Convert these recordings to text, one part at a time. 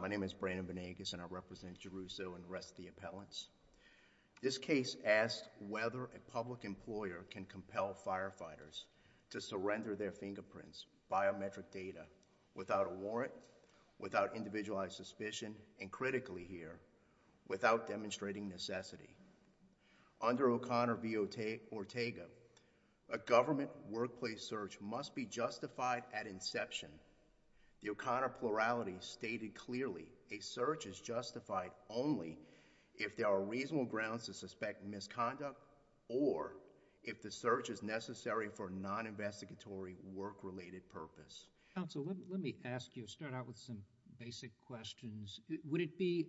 My name is Brandon Banegas and I represent Garrusso and the rest of the appellants. This case asked whether a public employer can compel firefighters to surrender their fingerprints, biometric data, without a warrant, without individualized suspicion, and critically here, without demonstrating necessity. Under O'Connor v. Ortega, a government workplace search must be justified at inception. The O'Connor plurality stated clearly a search is justified only if there are reasonable grounds to suspect misconduct or if the search is necessary for non-investigatory work-related purpose. Counsel, let me ask you, start out with some basic questions. Would it be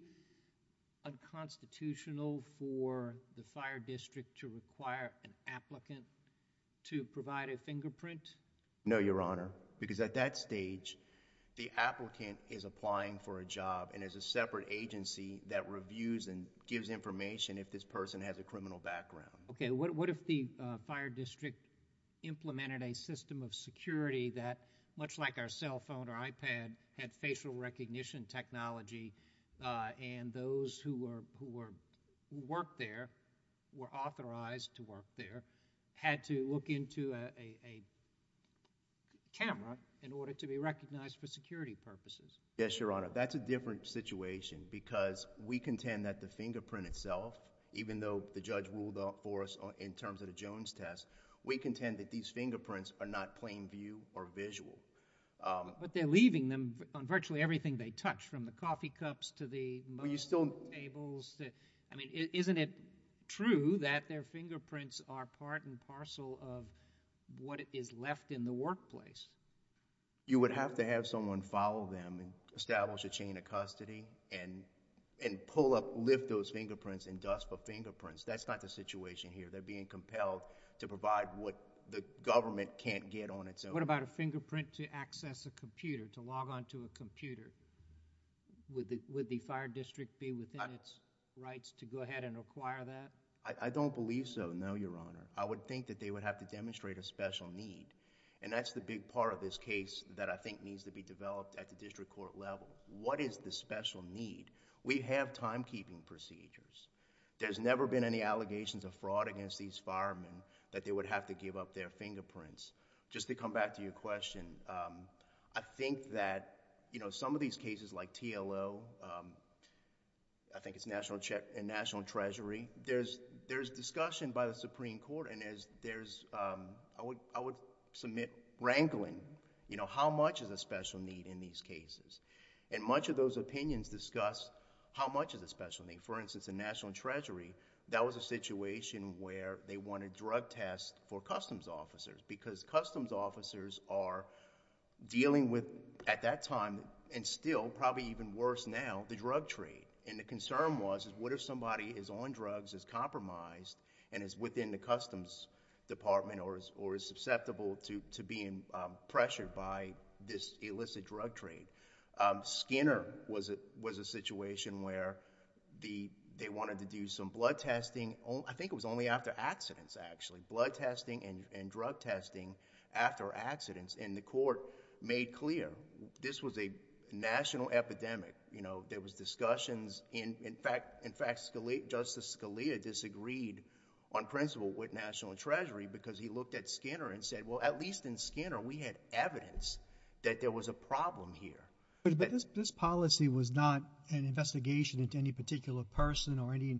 unconstitutional for the fire district to require an applicant to provide a background? Yes, Mr. O'Connor, because at that stage, the applicant is applying for a job and there's a separate agency that reviews and gives information if this person has a criminal background. Okay, what if the fire district implemented a system of security that, much like our cell phone or iPad, had facial recognition technology and those who work there, were authorized to work there, had to look into a camera in order to be recognized for security purposes? Yes, Your Honor, that's a different situation because we contend that the fingerprint itself, even though the judge ruled for us in terms of the Jones test, we contend that these fingerprints are not plain view or visual. But they're leaving them on virtually everything they touch, from the coffee cups to the... I mean, isn't it true that their fingerprints are part and parcel of what is left in the workplace? You would have to have someone follow them and establish a chain of custody and pull up, lift those fingerprints and dust the fingerprints. That's not the situation here. They're being compelled to provide what the government can't get on its own. What about a fingerprint to access a computer, to log on to a computer with the fire district be within its rights to go ahead and acquire that? I don't believe so, no, Your Honor. I would think that they would have to demonstrate a special need and that's the big part of this case that I think needs to be developed at the district court level. What is the special need? We have timekeeping procedures. There's never been any allegations of fraud against these firemen that they would have to give up their fingerprints. Just to come back to your question, I think that some of these cases like TLO, I think it's National Treasury, there's discussion by the Supreme Court and there's... I would submit wrangling. How much is a special need in these cases? Much of those opinions discuss how much is a special need. For instance, in National Treasury, that was a situation where they wanted drug test for customs officers because customs officers are dealing with, at that time and still, probably even worse now, the drug trade. The concern was what if somebody is on drugs, is compromised, and is within the customs department or is susceptible to being pressured by this illicit drug trade. Skinner was a situation where they wanted to do some blood testing. I think it was only after accidents actually, blood testing and drug testing after accidents. The court made clear this was a national epidemic. There was discussions. In fact, Justice Scalia disagreed on principle with National Treasury because he looked at Skinner and said, well, at least in Skinner, we had evidence that there was a problem here. This policy was not an investigation into any particular person or any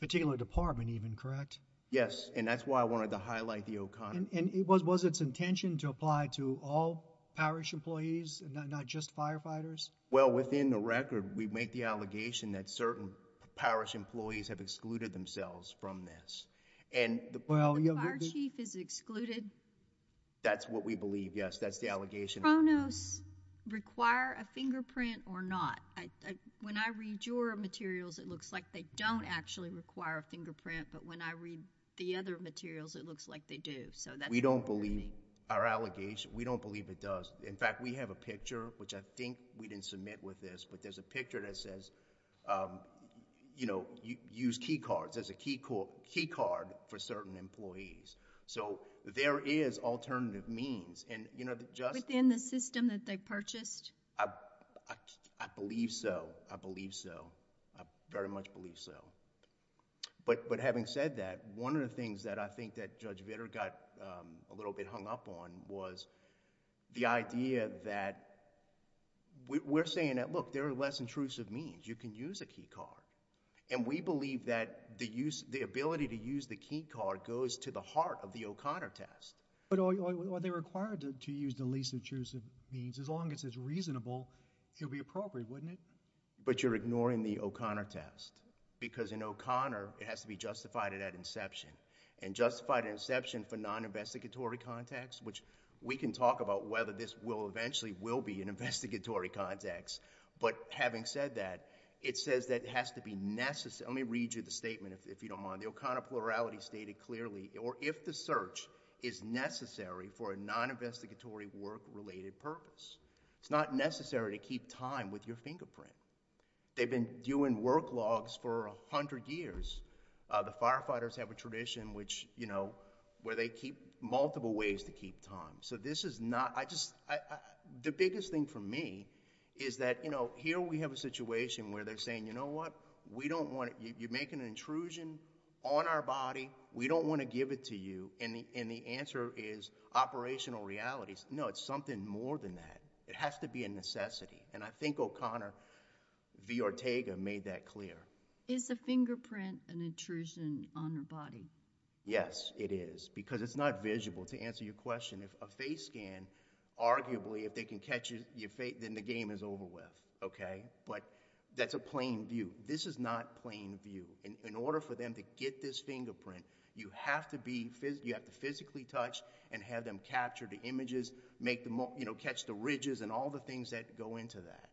particular department even, correct? Yes, and that's why I wanted to highlight the O'Connor. Was its intention to apply to all parish employees, not just firefighters? Well, within the record, we make the allegation that certain parish employees have excluded themselves from this. The fire chief is excluded? That's what we believe, yes. That's the allegation. Pronos require a fingerprint or not? When I read your materials, it looks like they don't actually require a fingerprint, but when I read the other materials, it looks like they do. We don't believe our allegation. We don't believe it does. In fact, we have a picture, which I think we didn't submit with this, but there's a picture that says, use key cards as a key card for certain employees. There is alternative means. Within the system that they purchased? I believe so. I believe so. I very much believe so, but having said that, one of the things that I think that Judge Vitter got a little bit hung up on was the idea that... we're saying that, look, there are less intrusive means. You can use a key card. We believe that the ability to use the key card goes to the heart of the O'Connor test. Are they required to use the least intrusive means? As long as it's reasonable, it would be appropriate, wouldn't it? But you're ignoring the O'Connor test because in O'Connor, it has to be justified at inception, and justified at inception for non-investigatory context, which we can talk about whether this will eventually will be in investigatory context, but having said that, it says that it has to be necessary... let me read you the statement, if you don't mind. The O'Connor plurality stated clearly, or if the search is necessary for a non-investigatory work-related purpose. It's not necessary to keep time with your fingerprint. They've been doing work logs for a hundred years. The firefighters have a tradition which, you know, where they keep multiple ways to keep time. So this is not... I just... the biggest thing for me is that, you know, here we have a situation where they're saying, you know what, we don't want... you're making an intrusion on our body, we don't want to give it to you, and the answer is operational realities. No, it's something more than that. It has to be a necessity, and I think O'Connor v. Ortega made that clear. Is the fingerprint an intrusion on the body? Yes, it is, because it's not visible, to answer your question. If a face scan, arguably, if they can catch your face, then the game is over with, okay? But that's a plain view. This is not plain view. In order for them to get this fingerprint, you have to be... you have to physically touch and have them capture the images, make them, you know, catch the ridges and all the things that go into that.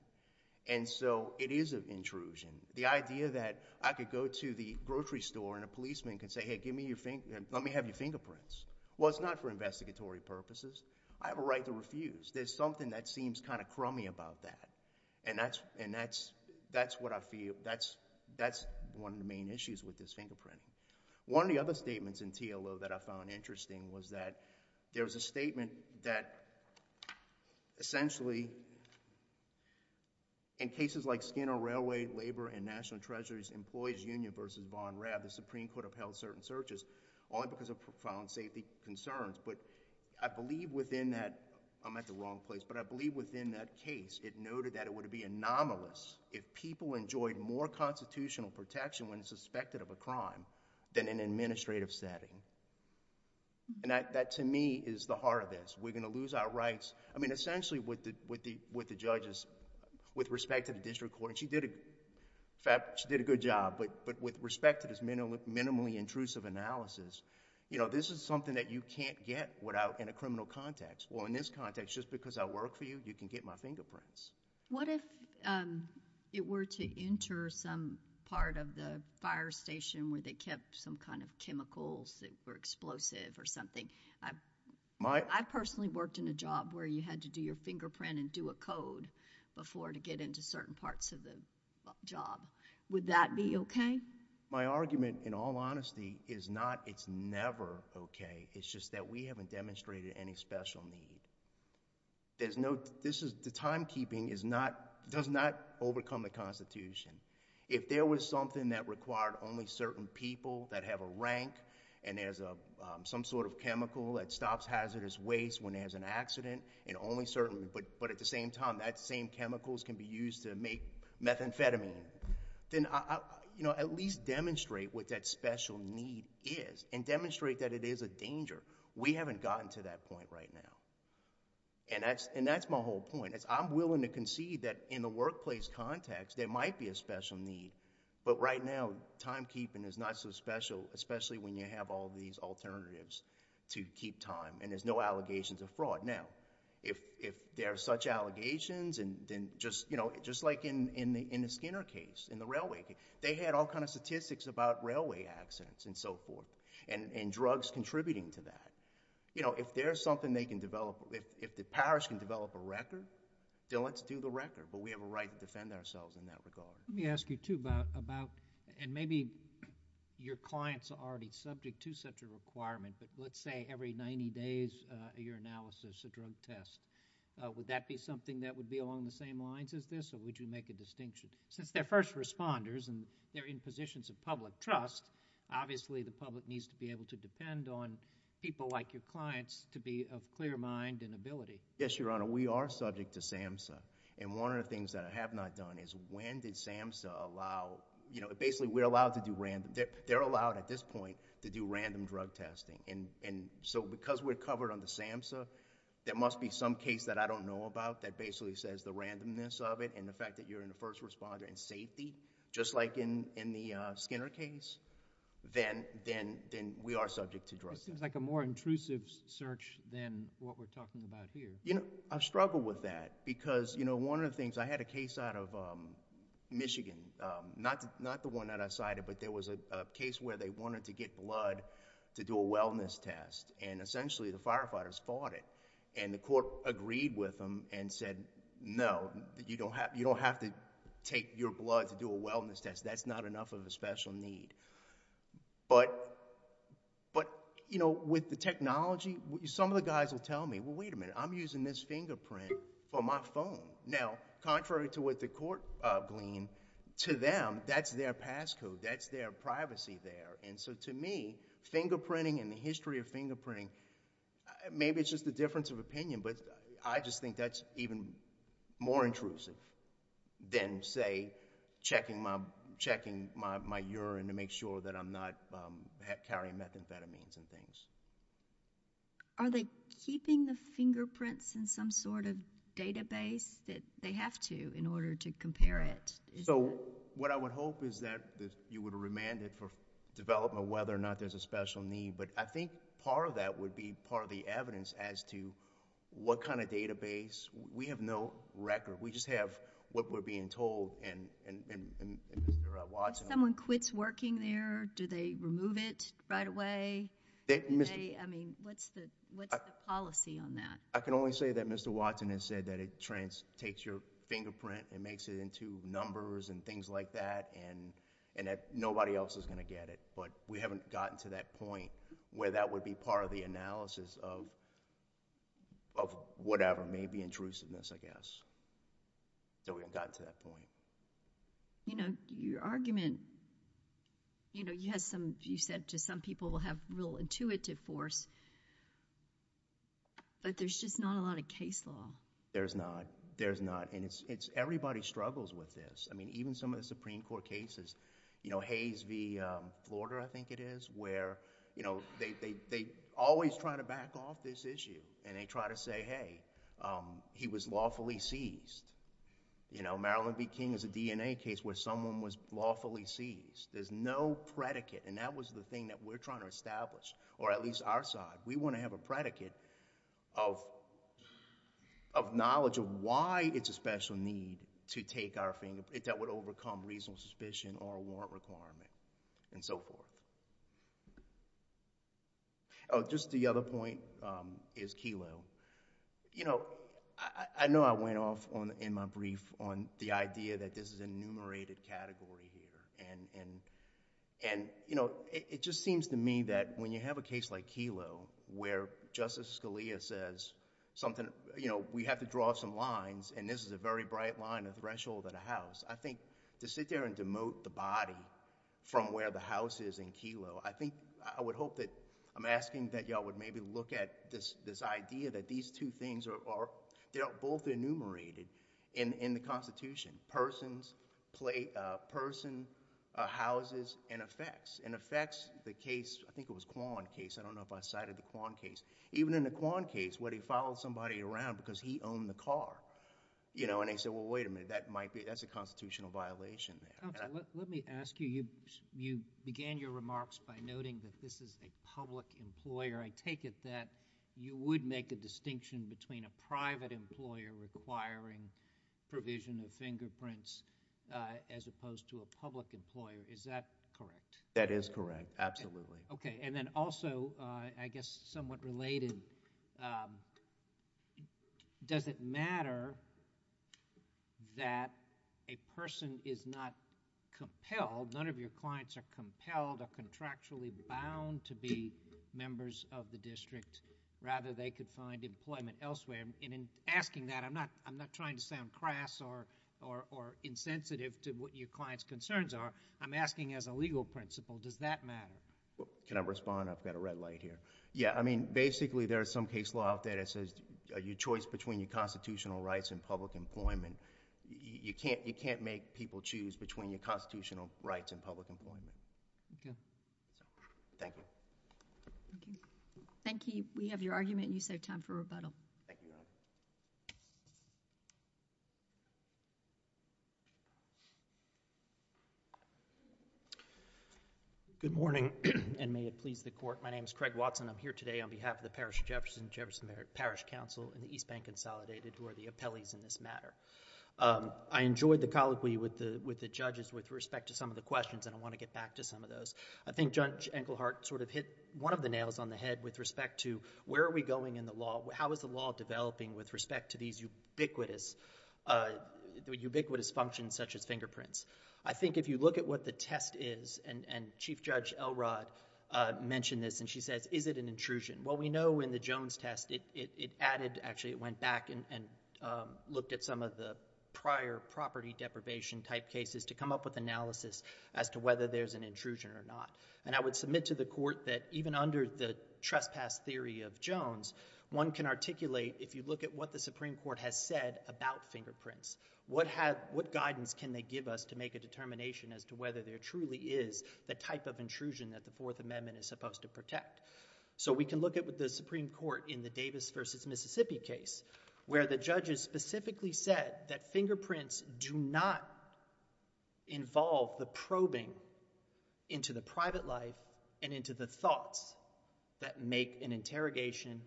And so, it is an intrusion. The idea that I could go to the grocery store, and a policeman could say, hey, give me your... let me have your fingerprints. Well, it's not for investigatory purposes. I have a right to refuse. There's something that seems kind of crummy about that, and that's... that's what I feel. That's one of the main issues with this fingerprint. One of the other statements in TLO that I found interesting was that there was a statement that, essentially, in cases like Skinner Railway, Labor and National Treasuries Employees Union v. Vaughn Rabb, the Supreme Court upheld certain searches only because of profound safety concerns, but I believe within that... I'm at the wrong place, but I believe within that case, it noted that it would be anomalous if people enjoyed more constitutional protection when suspected of a crime than in an administrative setting. And that, to me, is the heart of this. We're going to lose our rights. I mean, essentially, with the judges, with respect to the district court, and she did a good job, but with respect to this minimally intrusive analysis, this is something that you can't get in a criminal context. Well, in this context, just because I work for you, you can get my fingerprints. What if it were to enter some part of the fire station where they kept some kind of chemicals that were explosive or something? I personally worked in a job where you had to do your fingerprint and do a code before to get into certain parts of the job. Would that be okay? My argument, in all honesty, is not it's never okay. It's just that we haven't demonstrated any special need. The timekeeping does not overcome the Constitution. If there was something that required only certain people that have a rank, and there's some sort of chemical that stops hazardous waste when there's an accident, and only certain... but at the same time, that same chemicals can be used to make methamphetamine, then at least demonstrate what that special need is, and demonstrate that it is a danger. We haven't gotten to that point right now. That's my whole point. I'm willing to concede that in the workplace context, there might be a special need, but right now, timekeeping is not so special, especially when you have all of these alternatives to keep time, and there's no allegations of fraud. Now, if there are such allegations, just like in the Skinner case, in the railway case, they had all kind of statistics about railway accidents and so forth, and drugs contributing to that. If there's something they can develop... if the parish can develop a record, then let's do the record, but we have a right to defend ourselves in that regard. Let me ask you too about... and maybe your clients are already subject to such a requirement, but let's say every ninety days of your analysis, a drug test, would that be something that would be along the same lines as this, or would you make a distinction? Since they're first responders and they're in positions of public trust, obviously, the public needs to be able to depend on people like your clients to be of clear mind and ability. Yes, Your Honor. We are subject to SAMHSA, and one of the things that I have not done is, when did SAMHSA allow... basically, we're allowed to... they're allowed, at this point, to do random drug testing, and so because we're covered under SAMHSA, there must be some case that I don't know about that basically says the randomness of it and the fact that you're in the first responder and safety, just like in the Skinner case, then we are subject to drug testing. It seems like a more intrusive search than what we're talking about here. I struggle with that because, you know, one of the things... I had a case in Michigan, not the one that I cited, but there was a case where they wanted to get blood to do a wellness test, and essentially, the firefighters fought it, and the court agreed with them and said, no, you don't have to take your blood to do a wellness test. That's not enough of a special need. With the technology, some of the guys will tell me, well, wait a minute, I'm using this fingerprint for my phone. Now, contrary to what the court gleaned, to them, that's their passcode. That's their privacy there, and so to me, fingerprinting and the history of fingerprinting, maybe it's just the difference of opinion, but I just think that's even more intrusive than, say, checking my urine to make sure that I'm not carrying methamphetamines and things. Are they keeping the fingerprints in some sort of database that they have to in order to compare it? So, what I would hope is that you would remand it for development, whether or not there's a special need, but I think part of that would be part of the evidence as to what kind of database. We have no record. We just have what we're being told, and they're watching. When someone quits working there, do they remove it right away? I mean, what's the policy on that? I can only say that Mr. Watson has said that it takes your fingerprint and makes it into numbers and things like that, and that nobody else is going to get it, but we haven't gotten to that point where that would be part of the analysis of whatever, maybe intrusiveness, I guess. So, we haven't gotten to that point. Your argument, you said to some people will have real intuitive force, but there's just not a lot of case law. There's not. There's not, and everybody struggles with this. I mean, even some of the Supreme Court cases, you know, Hayes v. Florida, I think it is, where they always try to back off this issue, and they try to say, hey, he was lawfully seized. You know, Marilyn v. King is a DNA case where someone was lawfully seized. There's no predicate, and that was the thing that we're trying to establish, or at least our side. We want to have a predicate of knowledge of why it's a special need to take our fingerprint that would overcome reasonable suspicion or warrant requirement, and so forth. Oh, just the other point is Kelo. You know, I know I went off in my brief on the idea that this is a enumerated category here, and it just seems to me that when you have a case like Kelo, where Justice Scalia says something... you know, we have to draw some lines, and this is a very bright line, a threshold at a house. I think to sit there and demote the body from where the house is in Kelo, I think... I would hope that... I'm asking that y'all would maybe look at this idea that these two things are... they're both enumerated in the Constitution, persons, houses, and effects. In effects, the case, I think it was Kwan case. I don't know if I cited the Kwan case. Even in the Kwan case, where they followed somebody around because he owned the car, you know, and they said, well, wait a minute, that might be... that's a constitutional violation. Let me ask you, you began your remarks by noting that this is a public employer. I take it that you would make a distinction between a private employer requiring provision of fingerprints as opposed to a public employer. Is that correct? That is correct, absolutely. Okay, and then also, I guess somewhat related, does it matter that a person is not compelled, none of your clients are compelled or contractually bound to be members of the district? Rather, they could find employment elsewhere. In asking that, I'm not trying to sound crass or insensitive to what your client's concerns are. I'm asking as a legal principle, does that matter? Can I respond? I've got a red light here. Yeah, I mean, basically, there is some case law out there that says your choice between your constitutional rights and public employment, you can't make people choose between your constitutional rights and public employment. Okay. Thank you. Thank you. We have your argument and you saved time for rebuttal. Thank you, Your Honor. Good morning and may it please the Court. My name is Craig Watson. I'm here today on behalf of the Parish of Jefferson, Jefferson Parish Council and the East Bank Consolidated, who are the appellees in this matter. I enjoyed the colloquy with the judges with respect to some of the questions and I want to get back to some of those. I think Judge Enkelhardt sort of hit one of the nails on the head with respect to where are we going in the law? How is the law developing with respect to these ubiquitous functions such as fingerprints? I think if you look at what the test is and Chief Judge Elrod mentioned this and she says, is it an intrusion? Well, we know in the Jones test it added, actually it went back and looked at some of the prior property deprivation type cases to come up with analysis as to whether there's an intrusion or not. And I would submit to the Court that even under the trespass theory of Jones, one can articulate if you look at what the Supreme Court has said about fingerprints, what guidance can they give us to make a determination as to whether there truly is the type of intrusion that the Fourth Amendment is supposed to protect. So we can look at what the Supreme Court in the Davis v. Mississippi case where the judges specifically said that fingerprints do not involve the probing into the private life and into the thoughts that make an interrogation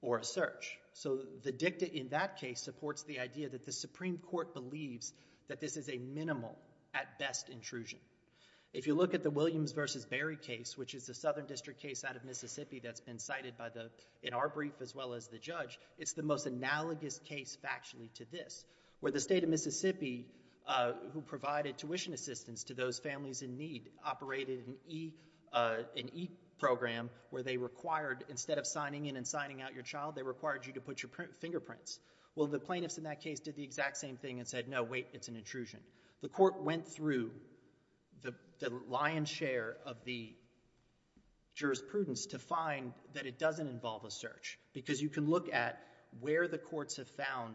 or a search. So the dicta in that case supports the idea that the Supreme Court believes that this is a minimal at best intrusion. If you look at the Williams v. Barry case, which is the southern district case out of Mississippi that's been cited in our brief as well as the judge, it's the most analogous case factually to this, where the state of Mississippi who provided tuition assistance to those families in need operated an E program where they required, instead of signing in and signing out your child, they required you to put your fingerprints. Well, the plaintiffs in that case did the exact same thing and said, no, wait, it's an intrusion. The Court went through the lion's share of the jurisprudence to find that it doesn't involve a search. Because you can look at where the courts have found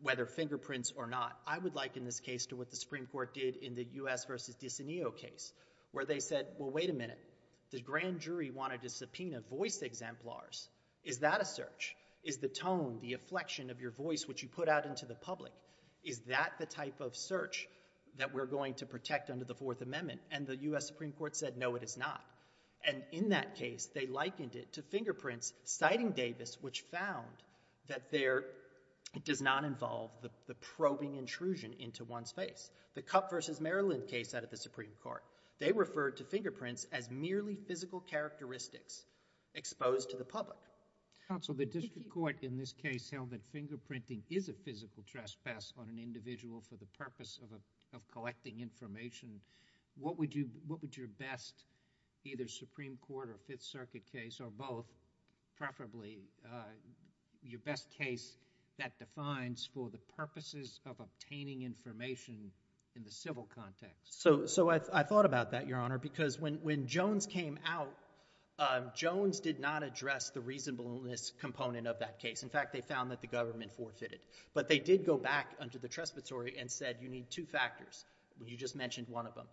whether fingerprints or not. I would liken this case to what the Supreme Court did in the U.S. v. DiCineo case where they said, well, wait a minute, the grand jury wanted to subpoena voice exemplars. Is that a search? Is the tone, the affliction of your voice which you put out into the public, is that the type of search that we're going to protect under the Fourth Amendment? And the U.S. Supreme Court said, no, it is not. And in that case, they likened it to fingerprints citing Davis which found that there does not involve the probing intrusion into one's face. The Cupp v. Maryland case out of the Supreme Court, they referred to fingerprints as merely physical characteristics exposed to the public. Counsel, the district court in this case held that fingerprinting is a physical trespass on an individual for the purpose of collecting information. What would your best, either Supreme Court or Fifth Circuit case or both, preferably, your best case that defines for the purposes of obtaining information in the civil context? So I thought about that, Your Honor, because when Jones came out, Jones did not address the reasonableness component of that case. In fact, they found that the government forfeited. But they did go back under the Trespassory and said, you need two factors. You just mentioned one of them.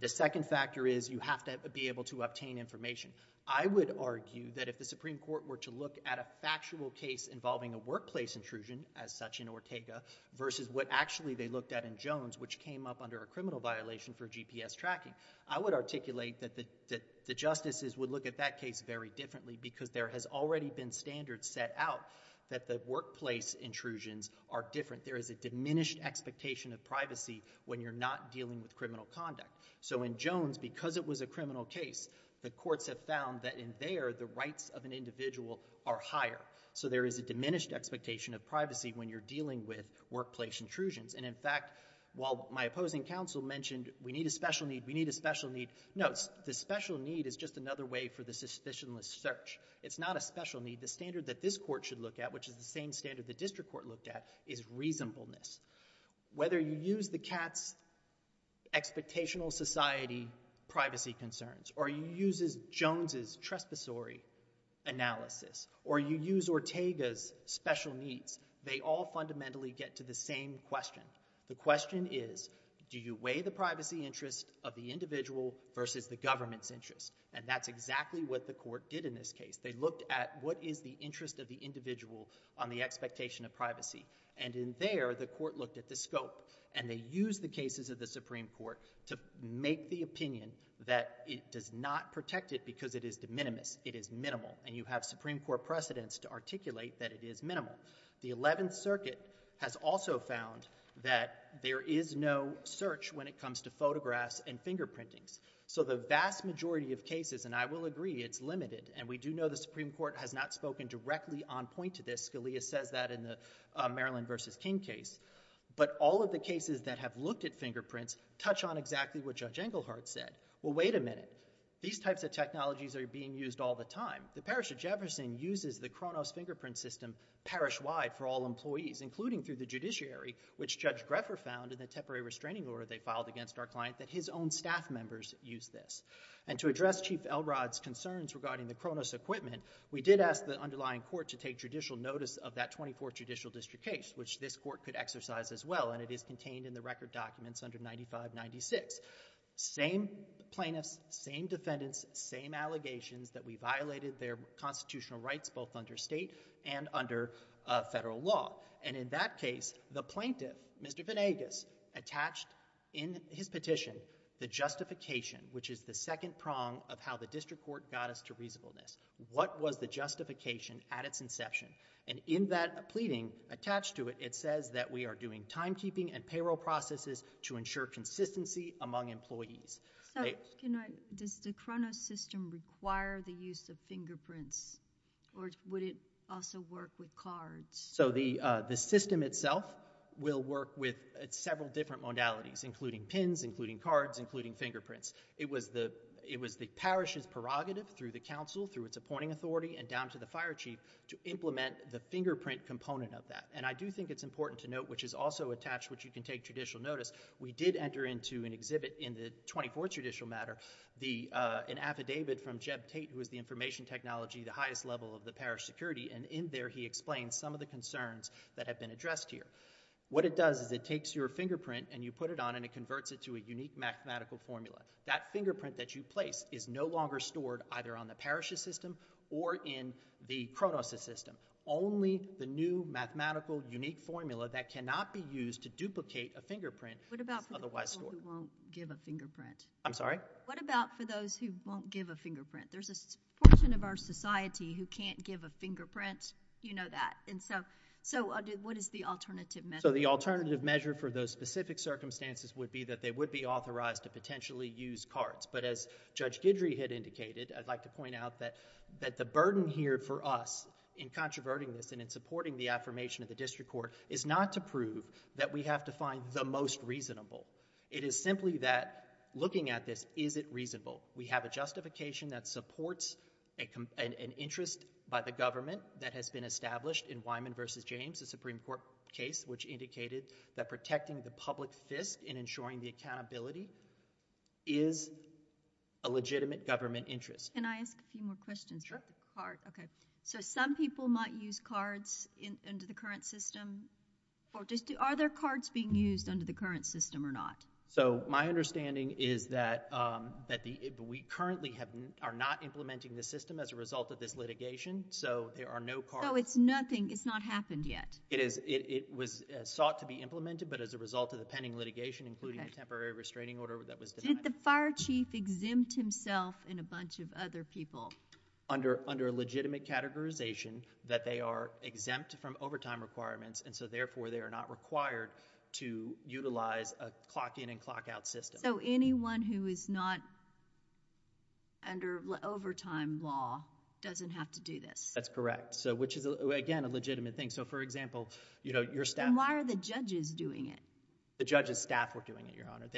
The second factor is you have to be able to obtain information. I would argue that if the Supreme Court were to look at a factual case involving a workplace intrusion, as such in Ortega, versus what actually they looked at in Jones which came up under a criminal violation for GPS tracking, I would articulate that the justices would look at that case very differently because there has already been standards set out that workplace intrusions are different. There is a diminished expectation of privacy when you're not dealing with criminal conduct. So in Jones, because it was a criminal case, the courts have found that in there the rights of an individual are higher. So there is a diminished expectation of privacy when you're dealing with workplace intrusions. And in fact, while my opposing counsel mentioned we need a special need, we need a special need, no, the special need is just another way for the suspicionless search. It's not a special need. The standard that this court should look at, which is the same standard the district court looked at, is reasonableness. Whether you use the CATS Expectational Society privacy concerns or you use Jones' trespassory analysis or you use Ortega's special needs, they all fundamentally get to the same question. The question is, do you weigh the privacy interest of the individual versus the government's interest? And that's exactly what the court did in this case. They looked at what is the interest of the individual on the expectation of privacy. And in there, the court looked at the scope. And they used the cases of the Supreme Court to make the opinion that it does not protect it because it is de minimis. It is minimal. And you have Supreme Court precedents to articulate that it is minimal. The Eleventh Circuit has also found that there is no search when it comes to photographs and fingerprintings. So the vast majority of cases, and I will agree, it's limited. And we do know the Supreme Court has not spoken directly on point to this. Scalia says that in the Maryland v. King case. But all of the cases that have looked at fingerprints touch on exactly what Judge Englehart said. Well, wait a minute. These types of technologies are being used all the time. The Parish of Jefferson uses the Kronos fingerprint system parish-wide for all employees, including through the judiciary, which Judge Greffer found in the temporary restraining order they filed against our client that his own staff members use this. And to address Chief Elrod's concerns regarding the Kronos equipment, we did ask the underlying court to take judicial notice of that 24th Judicial District case, which this court could exercise as well. And it is contained in the record documents under 95-96. Same plaintiffs, same defendants, same allegations that we violated their constitutional rights, both under state and under federal law. And in that case, the plaintiff, Mr. Venegas, attached in his petition the justification, which is the second court got us to reasonableness. What was the justification at its inception? And in that pleading, attached to it, it says that we are doing timekeeping and payroll processes to ensure consistency among employees. So does the Kronos system require the use of fingerprints? Or would it also work with cards? So the system itself will work with several different modalities, including pins, including cards, including fingerprints. It was the parish's prerogative, through the council, through its appointing authority, and down to the fire chief, to implement the fingerprint component of that. And I do think it's important to note, which is also attached, which you can take judicial notice, we did enter into an exhibit in the 24th Judicial matter, an affidavit from Jeb Tate, who is the information technology, the highest level of the parish security, and in there he explains some of the concerns that have been addressed here. What it does is it takes your fingerprint and you put it on and it converts it to a unique mathematical formula. That fingerprint that you place is no longer stored either on the parish's system or in the Kronos system. Only the new mathematical, unique formula that cannot be used to duplicate a fingerprint is otherwise stored. What about for those who won't give a fingerprint? I'm sorry? What about for those who won't give a fingerprint? There's a portion of our society who can't give a fingerprint. You know that. So what is the alternative measure? So the alternative measure for those specific circumstances would be that they would be authorized to potentially use cards. But as Judge Guidry had indicated, I'd like to point out that the burden here for us in controverting this and in supporting the affirmation of the district court is not to prove that we have to find the most reasonable. It is simply that looking at this, is it reasonable? We have a justification that supports an interest by the government that has been established in Wyman v. James, a Supreme Court case, which indicated that protecting the public fisc in ensuring the accountability is a legitimate government interest. Can I ask a few more questions about the card? Okay. So some people might use cards under the current system. Are there cards being used under the current system or not? So my understanding is that we currently are not implementing the system as a result of this litigation. So there are no cards. So it's nothing. It's not happened yet. It was sought to be implemented, but as a result of the pending litigation, including a temporary restraining order that was denied. Did the fire chief exempt himself and a bunch of other people? Under a legitimate categorization that they are exempt from overtime requirements, and so therefore they are not required to utilize a clock in and clock out system. So anyone who is not under overtime law doesn't have to do this? That's correct. So which is again a legitimate thing. So for example, you know, your staff. And why are the judges doing it? The judge's staff were doing it, Your Honor.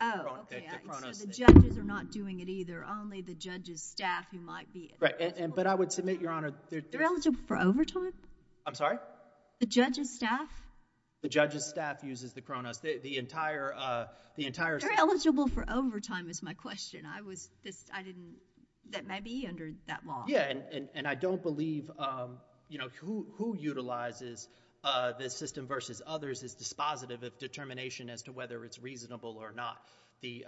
Oh, okay. So the judges are not doing it either. Only the judge's staff who might be. Right. But I would submit, Your Honor. They're eligible for overtime? I'm sorry? The judge's staff? The judge's staff uses the chronos. The entire system. They're eligible for overtime is my question. I was just, I didn't, that may be under that law. Yeah, and I don't believe, you know, who utilizes this system versus others is dispositive of determination as to whether it's reasonable or not. The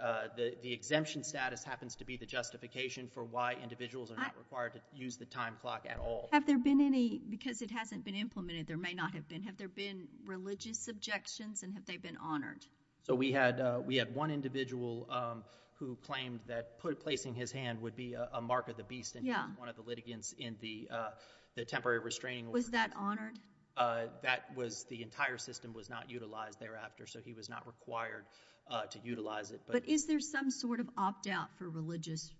exemption status happens to be the justification for why individuals are not required to use the time clock at all. Have there been any, because it hasn't been implemented, there may not have been, have there been religious objections and have they been honored? So we had one individual who claimed that placing his hand would be a mark of the beast in one of the litigants in the temporary restraining order. Was that honored? That was, the entire system was not utilized thereafter, so he was not required to utilize it. But is there some sort of opt-out for religious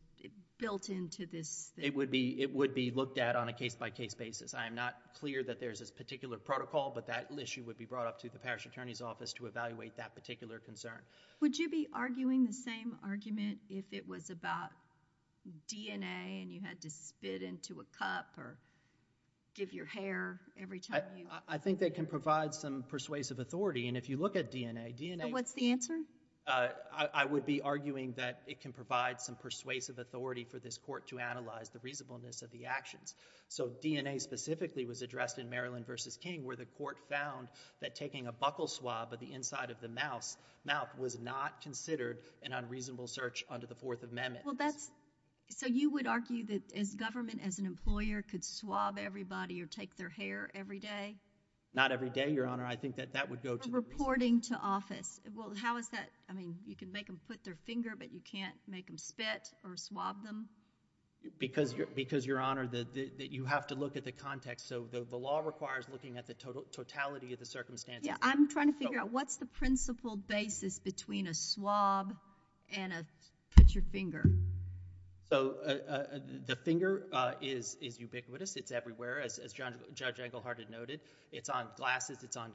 built into this? It would be looked at on a case-by-case basis. I am not clear that there's a particular protocol, but that issue would be brought up to the parish attorney's office to evaluate that particular concern. Would you be arguing the same argument if it was about DNA and you had to spit into a cup or give your hair every time you... I think they can provide some persuasive authority, and if you look at DNA, DNA... What's the answer? I would be arguing that it can provide some persuasive authority for this court to analyze the reasonableness of the actions. So DNA specifically was addressed in Maryland v. King, where the court found that taking a buckle swab of the inside of the mouth was not considered an unreasonable search under the Fourth Amendment. So you would argue that as government, as an employer, could swab everybody or take their hair every day? Not every day, Your Honor. I think that that would go to the police. Reporting to office. How is that? You can make them put their finger, but you can't make them spit or swab them? Because, Your Honor, you have to look at the context. So the law requires looking at the totality of the circumstances. I'm trying to figure out what's the principled basis between a swab and a...put your finger. So the finger is ubiquitous. It's everywhere. As Judge Englehart had noted, it's on glasses, it's on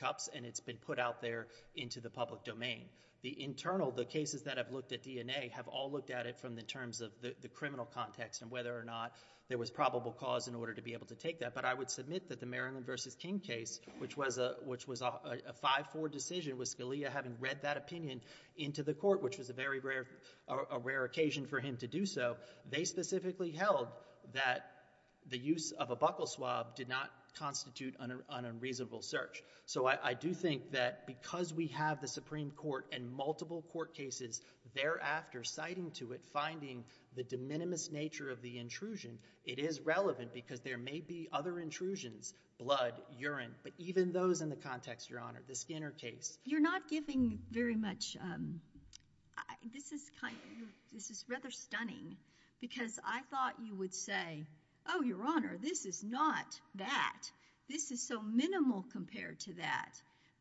cups, and it's been put out there into the public domain. The internal, the cases that have looked at DNA, have all looked at it from the terms of the criminal context and whether or not there was probable cause in order to be able to take that. But I would submit that the Maryland v. King case, which was a 5-4 decision with Scalia having read that opinion into the court, which was a very rare occasion for him to do so, they specifically held that the use of a buckle swab did not constitute an unreasonable search. So I do think that because we have the Supreme Court and multiple court cases thereafter citing to it, finding the de minimis nature of the intrusion, it is relevant because there may be other intrusions, blood, urine, but even those in the context, Your Honor, the Skinner case. You're not giving very much... This is rather stunning because I thought you would say, oh, Your Honor, this is not that. This is so minimal compared to that.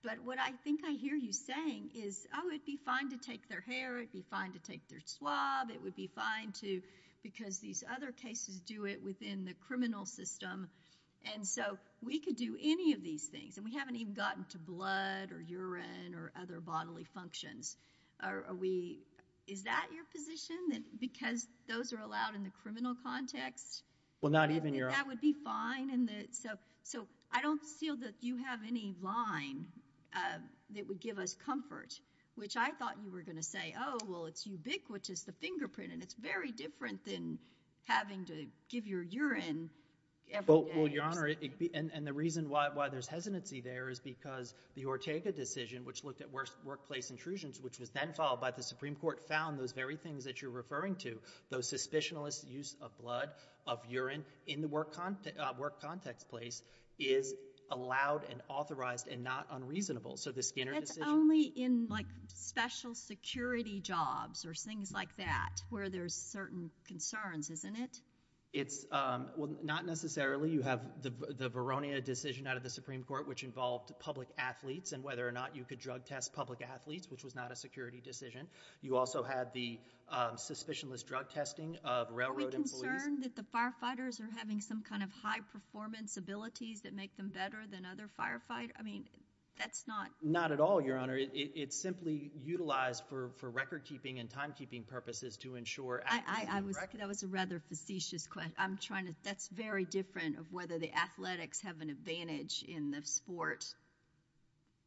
But what I think I hear you saying is, oh, it'd be fine to take their hair, it'd be fine to take their swab, it would be fine because these other cases do it within the criminal system. And so we could do any of these things and we haven't even gotten to blood or urine or other bodily functions. Is that your position? Because those are allowed in the criminal context? Well, not even, Your Honor... That would be fine? So I don't feel that you have any line that would give us comfort, which I thought you were going to say, oh, well, it's ubiquitous, the fingerprint, and it's very different than having to give your urine... Well, Your Honor, and the reason why there's hesitancy there is because the Ortega decision, which looked at workplace intrusions, which was then followed by the Supreme Court, found those very things that you're referring to, those suspicionless use of blood, of urine, in the work context place, is allowed and authorized and not unreasonable. So the Skinner decision... But it's only in, like, special security jobs or things like that, where there's certain concerns, isn't it? It's... Well, not necessarily. You have the Veronia decision out of the Supreme Court, which involved public athletes and whether or not you could drug test public athletes, which was not a security decision. You also had the suspicionless drug testing of railroad employees... Are we concerned that the firefighters are having some kind of high-performance abilities that make them better than other firefighters? I mean, that's not... Not at all, Your Honor. It's simply utilized for record-keeping and time-keeping purposes to ensure... I was... That was a rather facetious question. I'm trying to... That's very different of whether the athletics have an advantage in the sport,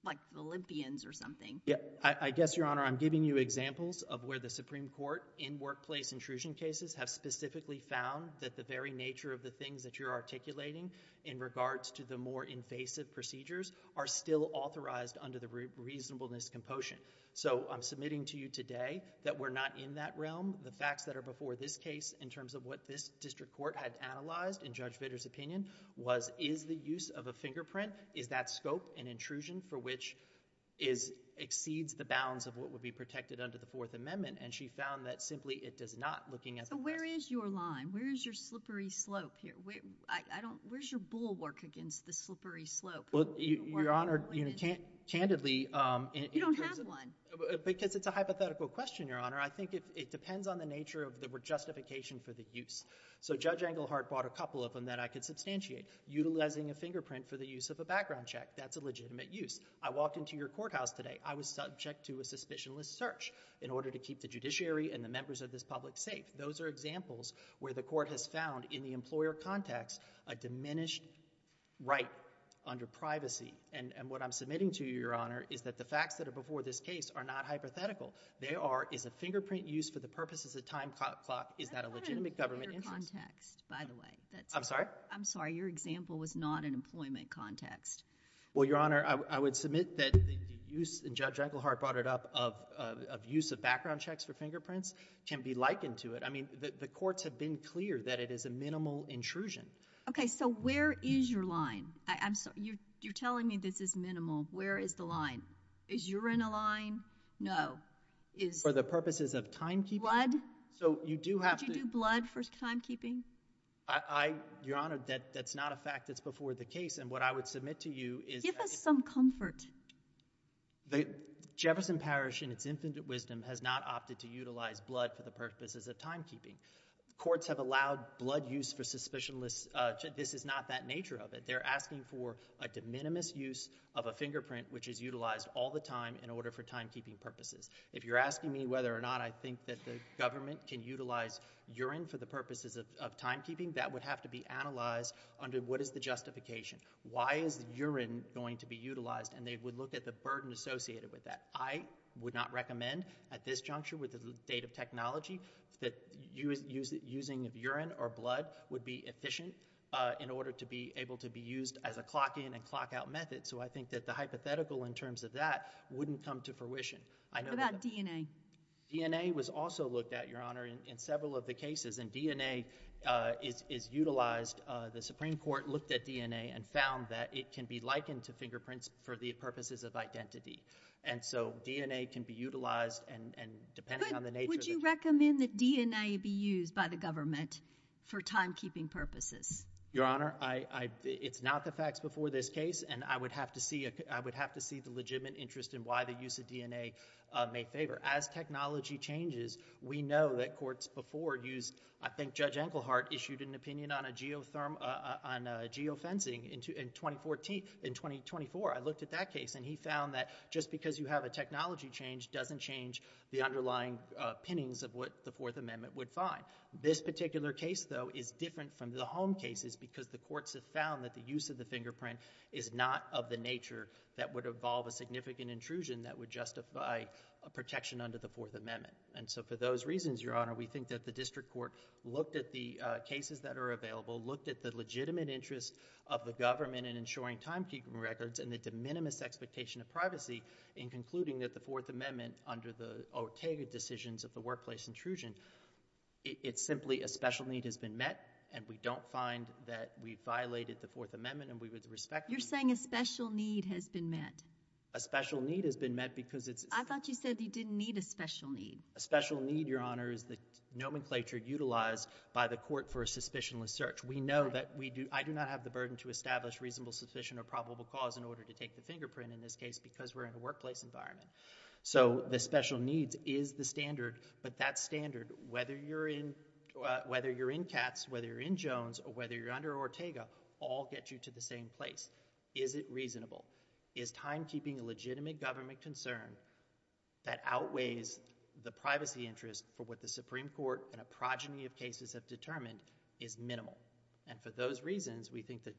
like the Olympians or something. Yeah. I guess, Your Honor, I'm giving you examples of where the Supreme Court, in workplace intrusion cases, have specifically found that the very nature of the things that you're articulating in regards to the more invasive procedures are still authorized under the reasonableness compotion. So, I'm submitting to you today that we're not in that realm. The facts that are before this case, in terms of what this district court had analyzed, in Judge Vitter's opinion, was, is the use of a fingerprint, is that scope an intrusion for which exceeds the bounds of what would be protected under the Fourth Amendment? And she found that, simply, it does not, looking at... So, where is your line? Where is your slippery slope here? Where's your bulwark against the slippery slope? Well, Your Honor, candidly... You don't have one. Because it's a hypothetical question, Your Honor. I think it depends on the nature of the justification for the use. So, Judge Englehart brought a couple of them that I could substantiate. Utilizing a fingerprint for the use of a background check, that's a legitimate use. I walked into your courthouse today. I was subject to a suspicionless search in order to keep the judiciary and the members of this public safe. Those are examples where the court has found, in the employer context, a diminished right under privacy. And what I'm submitting to you, Your Honor, is that the facts that are before this case are not hypothetical. They are, is a fingerprint used for the purposes of a time clock? Is that a legitimate government interest? That's not an employer context, by the way. I'm sorry? I'm sorry. Your example was not an employment context. Well, Your Honor, I would submit that the use, and Judge Englehart brought it up, of use of background checks for fingerprints can be likened to it. I mean, the courts have been clear that it is a minimal intrusion. Okay, so where is your line? I'm sorry, you're telling me this is minimal. Where is the line? Is you're in a line? No. For the purposes of timekeeping? Would you do blood for timekeeping? I, Your Honor, that's not a fact that's before the case, and what I would submit to you is that... Give us some comfort. The Jefferson Parish, in its infinite wisdom, has not opted to utilize blood for the purposes of timekeeping. Courts have allowed blood use for suspicionless... This is not that nature of it. They're asking for a de minimis use of a fingerprint, which is utilized all the time in order for timekeeping purposes. If you're asking me whether or not I think that the government can utilize urine for the purposes of timekeeping, that would have to be analyzed under what is the justification. Why is urine going to be utilized? And they would look at the burden associated with that. I would not recommend, at this juncture, with the state of technology, that using urine or blood would be efficient in order to be able to be used as a clock-in and clock-out method. I think that the hypothetical, in terms of that, wouldn't come to fruition. What about DNA? DNA was also looked at, Your Honor, in several of the cases, and DNA is utilized. The Supreme Court looked at DNA and found that it can be likened to fingerprints for the purposes of identity. DNA can be utilized, depending on the nature of the case. Would you recommend that DNA be used by the government for timekeeping purposes? Your Honor, it's not the facts before this case, and I would have to see the legitimate interest in why the use of DNA may favor. As technology changes, we know that courts before used, I think Judge Enkelhardt issued an opinion on geofencing in 2024. I looked at that case, and he found that just because you have a technology change doesn't change the underlying pinnings of what the Fourth Amendment would find. This particular case, though, is different from the home cases because the courts have found that the use of the fingerprint is not of the nature that would involve a significant intrusion that would justify a protection under the Fourth Amendment. For those reasons, Your Honor, we think that the District Court looked at the cases that are available, looked at the legitimate interest of the government in ensuring timekeeping records, and the de minimis expectation of privacy in concluding that the Fourth Amendment, under the Ortega decisions of the workplace intrusion, it's simply a special need has been met, and we don't find that we violated the Fourth Amendment and we would respect it. You're saying a special need has been met. A special need has been met because it's—I thought you said you didn't need a special need. A special need, Your Honor, is the nomenclature utilized by the court for a suspicionless search. We know that we do—I do not have the burden to establish reasonable, sufficient, or probable cause in order to take the fingerprint in this case because we're in a workplace environment. So, the special needs is the standard, but that standard, whether you're in—whether you're in Katz, whether you're in Jones, or whether you're under Ortega, all get you to the same place. Is it reasonable? Is timekeeping a legitimate government concern that outweighs the privacy interest for what the Supreme Court and a progeny of cases have determined is minimal? And for those reasons, we think that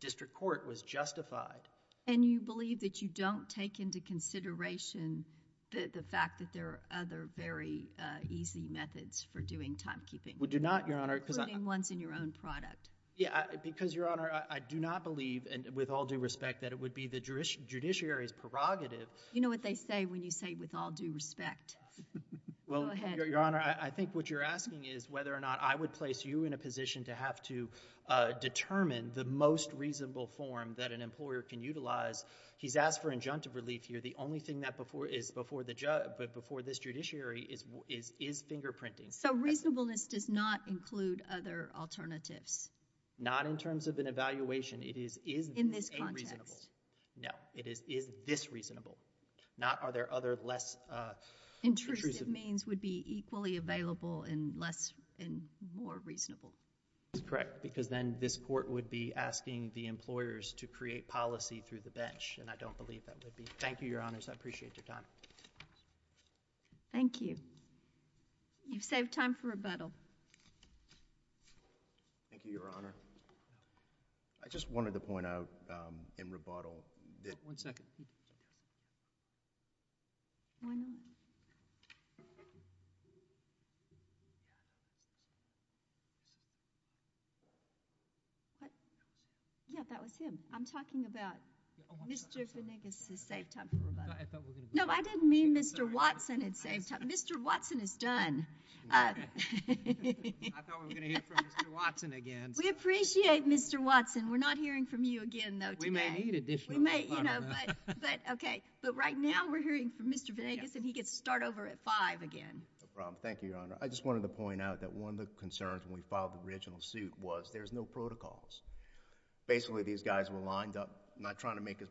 district court was justified. And you believe that you don't take into consideration the fact that there are other very easy methods for doing timekeeping? We do not, Your Honor. Including ones in your own product. Yeah, because, Your Honor, I do not believe and with all due respect that it would be the judiciary's prerogative— You know what they say when you say with all due respect. Go ahead. Well, Your Honor, I think what you're asking is whether or not I would place you in a position to have to determine the most reasonable form that an employer can utilize. He's asked for injunctive relief here. The only thing that is before this judiciary is fingerprinting. So reasonableness does not include other alternatives? Not in terms of an evaluation. It is a reasonable. In this context? No. It is this reasonable. Not are there other less— Intrusive means would be equally available and less and more reasonable. Correct, because then this court would be asking the employers to create policy through the bench, and I don't believe that would be. Thank you, Your Honors. I appreciate your time. Thank you. You've saved time for rebuttal. Thank you, Your Honor. I just wanted to point out in rebuttal— One second. Go ahead. Yeah, that was him. I'm talking about Mr. Venegas' saved time for rebuttal. No, I didn't mean Mr. Watson had saved time. Mr. Watson is done. I thought we were going to hear from Mr. Watson again. We appreciate Mr. Watson. We're not hearing from you again, though, today. We may need additional time on that. But right now, we're hearing from Mr. Venegas and he gets to start over at 5 again. No problem. Thank you, Your Honor. I just wanted to point out that one of the concerns when we filed the original suit was there's no protocols. Basically, these guys were lined up, not trying to make it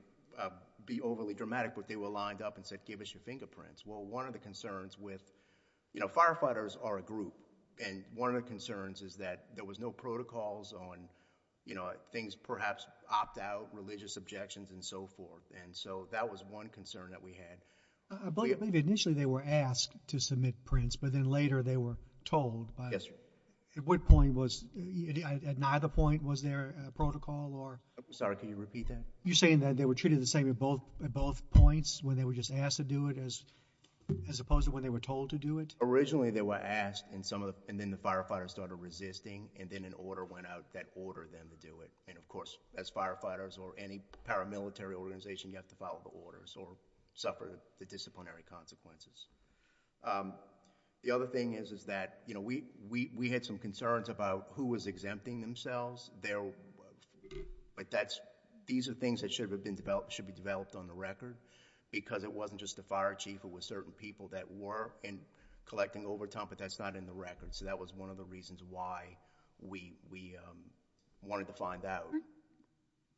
be overly dramatic, but they were lined up and said, give us your fingerprints. Well, one of the concerns with— Firefighters are a group, and one of the concerns is that there was no protocols on things perhaps opt-out, religious objections, and so forth. That was one concern that we had. I believe initially they were asked to submit prints, but then later they were told. Yes, Your Honor. At what point was—at neither point was there a protocol or— Sorry, can you repeat that? You're saying that they were treated the same at both points when they were just asked to do it as opposed to when they were told to do it? Originally, they were asked, and then the firefighters started resisting, and then an order went out that ordered them to do it. And of course, as firefighters or any paramilitary organization, you have to follow the orders or suffer the disciplinary consequences. The other thing is that we had some concerns about who was exempting themselves. These are things that should be developed on the record, because it wasn't just the fire chief. It was certain people that were collecting overtime, but that's not in the record, so that was one of the reasons why we wanted to find out.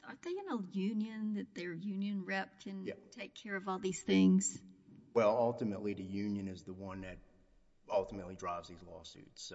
Aren't they in a union that their union rep can take care of all these things? Well, ultimately, the union is the one that ultimately drives these lawsuits.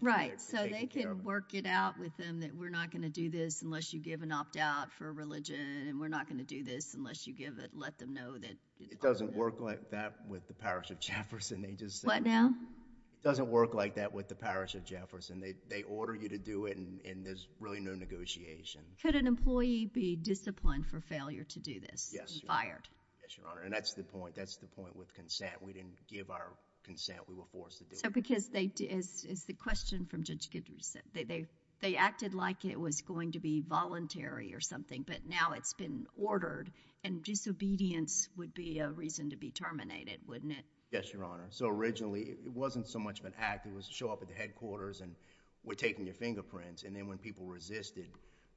Right, so they can work it out with them that we're not going to do this unless you give an opt-out for religion, and we're not going to do this unless you let them know that— It doesn't work like that with the Parish of Jefferson. What now? It doesn't work like that with the Parish of Jefferson. They order you to do it, and there's really no negotiation. Could an employee be disciplined for failure to do this and fired? Yes, Your Honor, and that's the point. That's the point with consent. We didn't give our consent. We were forced to do it. Is the question from Judge Guidry that they acted like it was going to be voluntary or something, but now it's been ordered, and disobedience would be a reason to be terminated, wouldn't it? Yes, Your Honor. So originally, it wasn't so much of an act. It was show up at the headquarters and we're taking your fingerprints, and then when people resisted,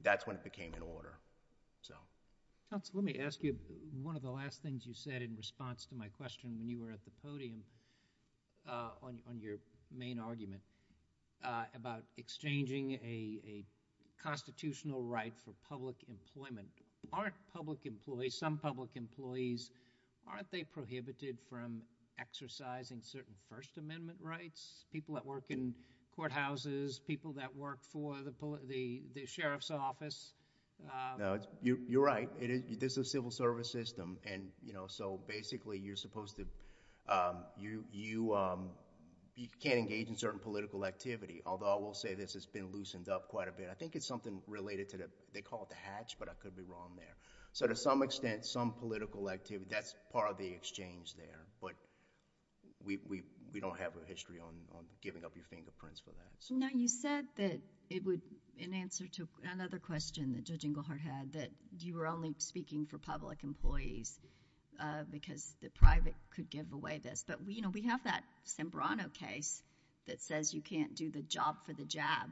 that's when it became an order. Counsel, let me ask you one of the last things you said in response to my question when you were at the podium on your main argument about exchanging a constitutional right for public employment. Aren't public employees— some public employees—aren't they prohibited from exercising certain First Amendment rights? People that work in courthouses, people that work for the sheriff's office. You're right. This is a civil service system. So basically, you're supposed to— you can't engage in certain political activity, although I will say this has been loosened up quite a bit. I think it's something related to the—they call it the hatch, but I could be wrong there. So to some extent, some political activity, that's part of the exchange there, but we don't have a history on giving up your fingerprints for that. Now, you said that it would— in answer to another question that Judge Inglehart had, that you were only speaking for public employees because the private could give away this. But, you know, we have that Sembrano case that says you can't do the job for the jab.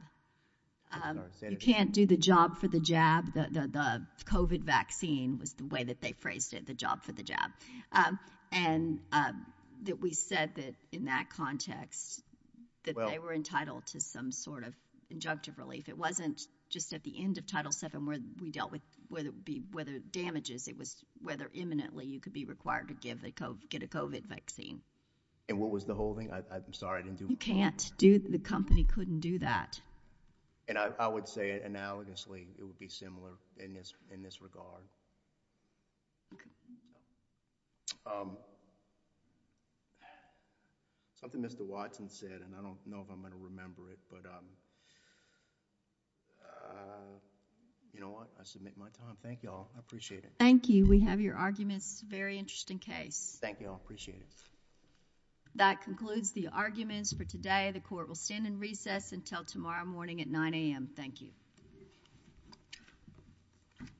You can't do the job for the jab. The COVID vaccine was the way that they phrased it, the job for the jab. And that we said that in that context that they were entitled to some sort of injunctive relief. It wasn't just at the end of Title VII where we dealt with whether damages, it was whether imminently you could be required to get a COVID vaccine. And what was the whole thing? I'm sorry, I didn't do— You can't do—the company couldn't do that. And I would say analogously it would be similar in this regard. Okay. Something Mr. Watson said and I don't know if I'm going to remember it, but you know what? I submit my time. Thank you all. I appreciate it. Thank you. We have your arguments. Very interesting case. Thank you all. Appreciate it. That concludes the arguments for today. The court will stand in recess until tomorrow morning at 9 a.m. Thank you. Thank you.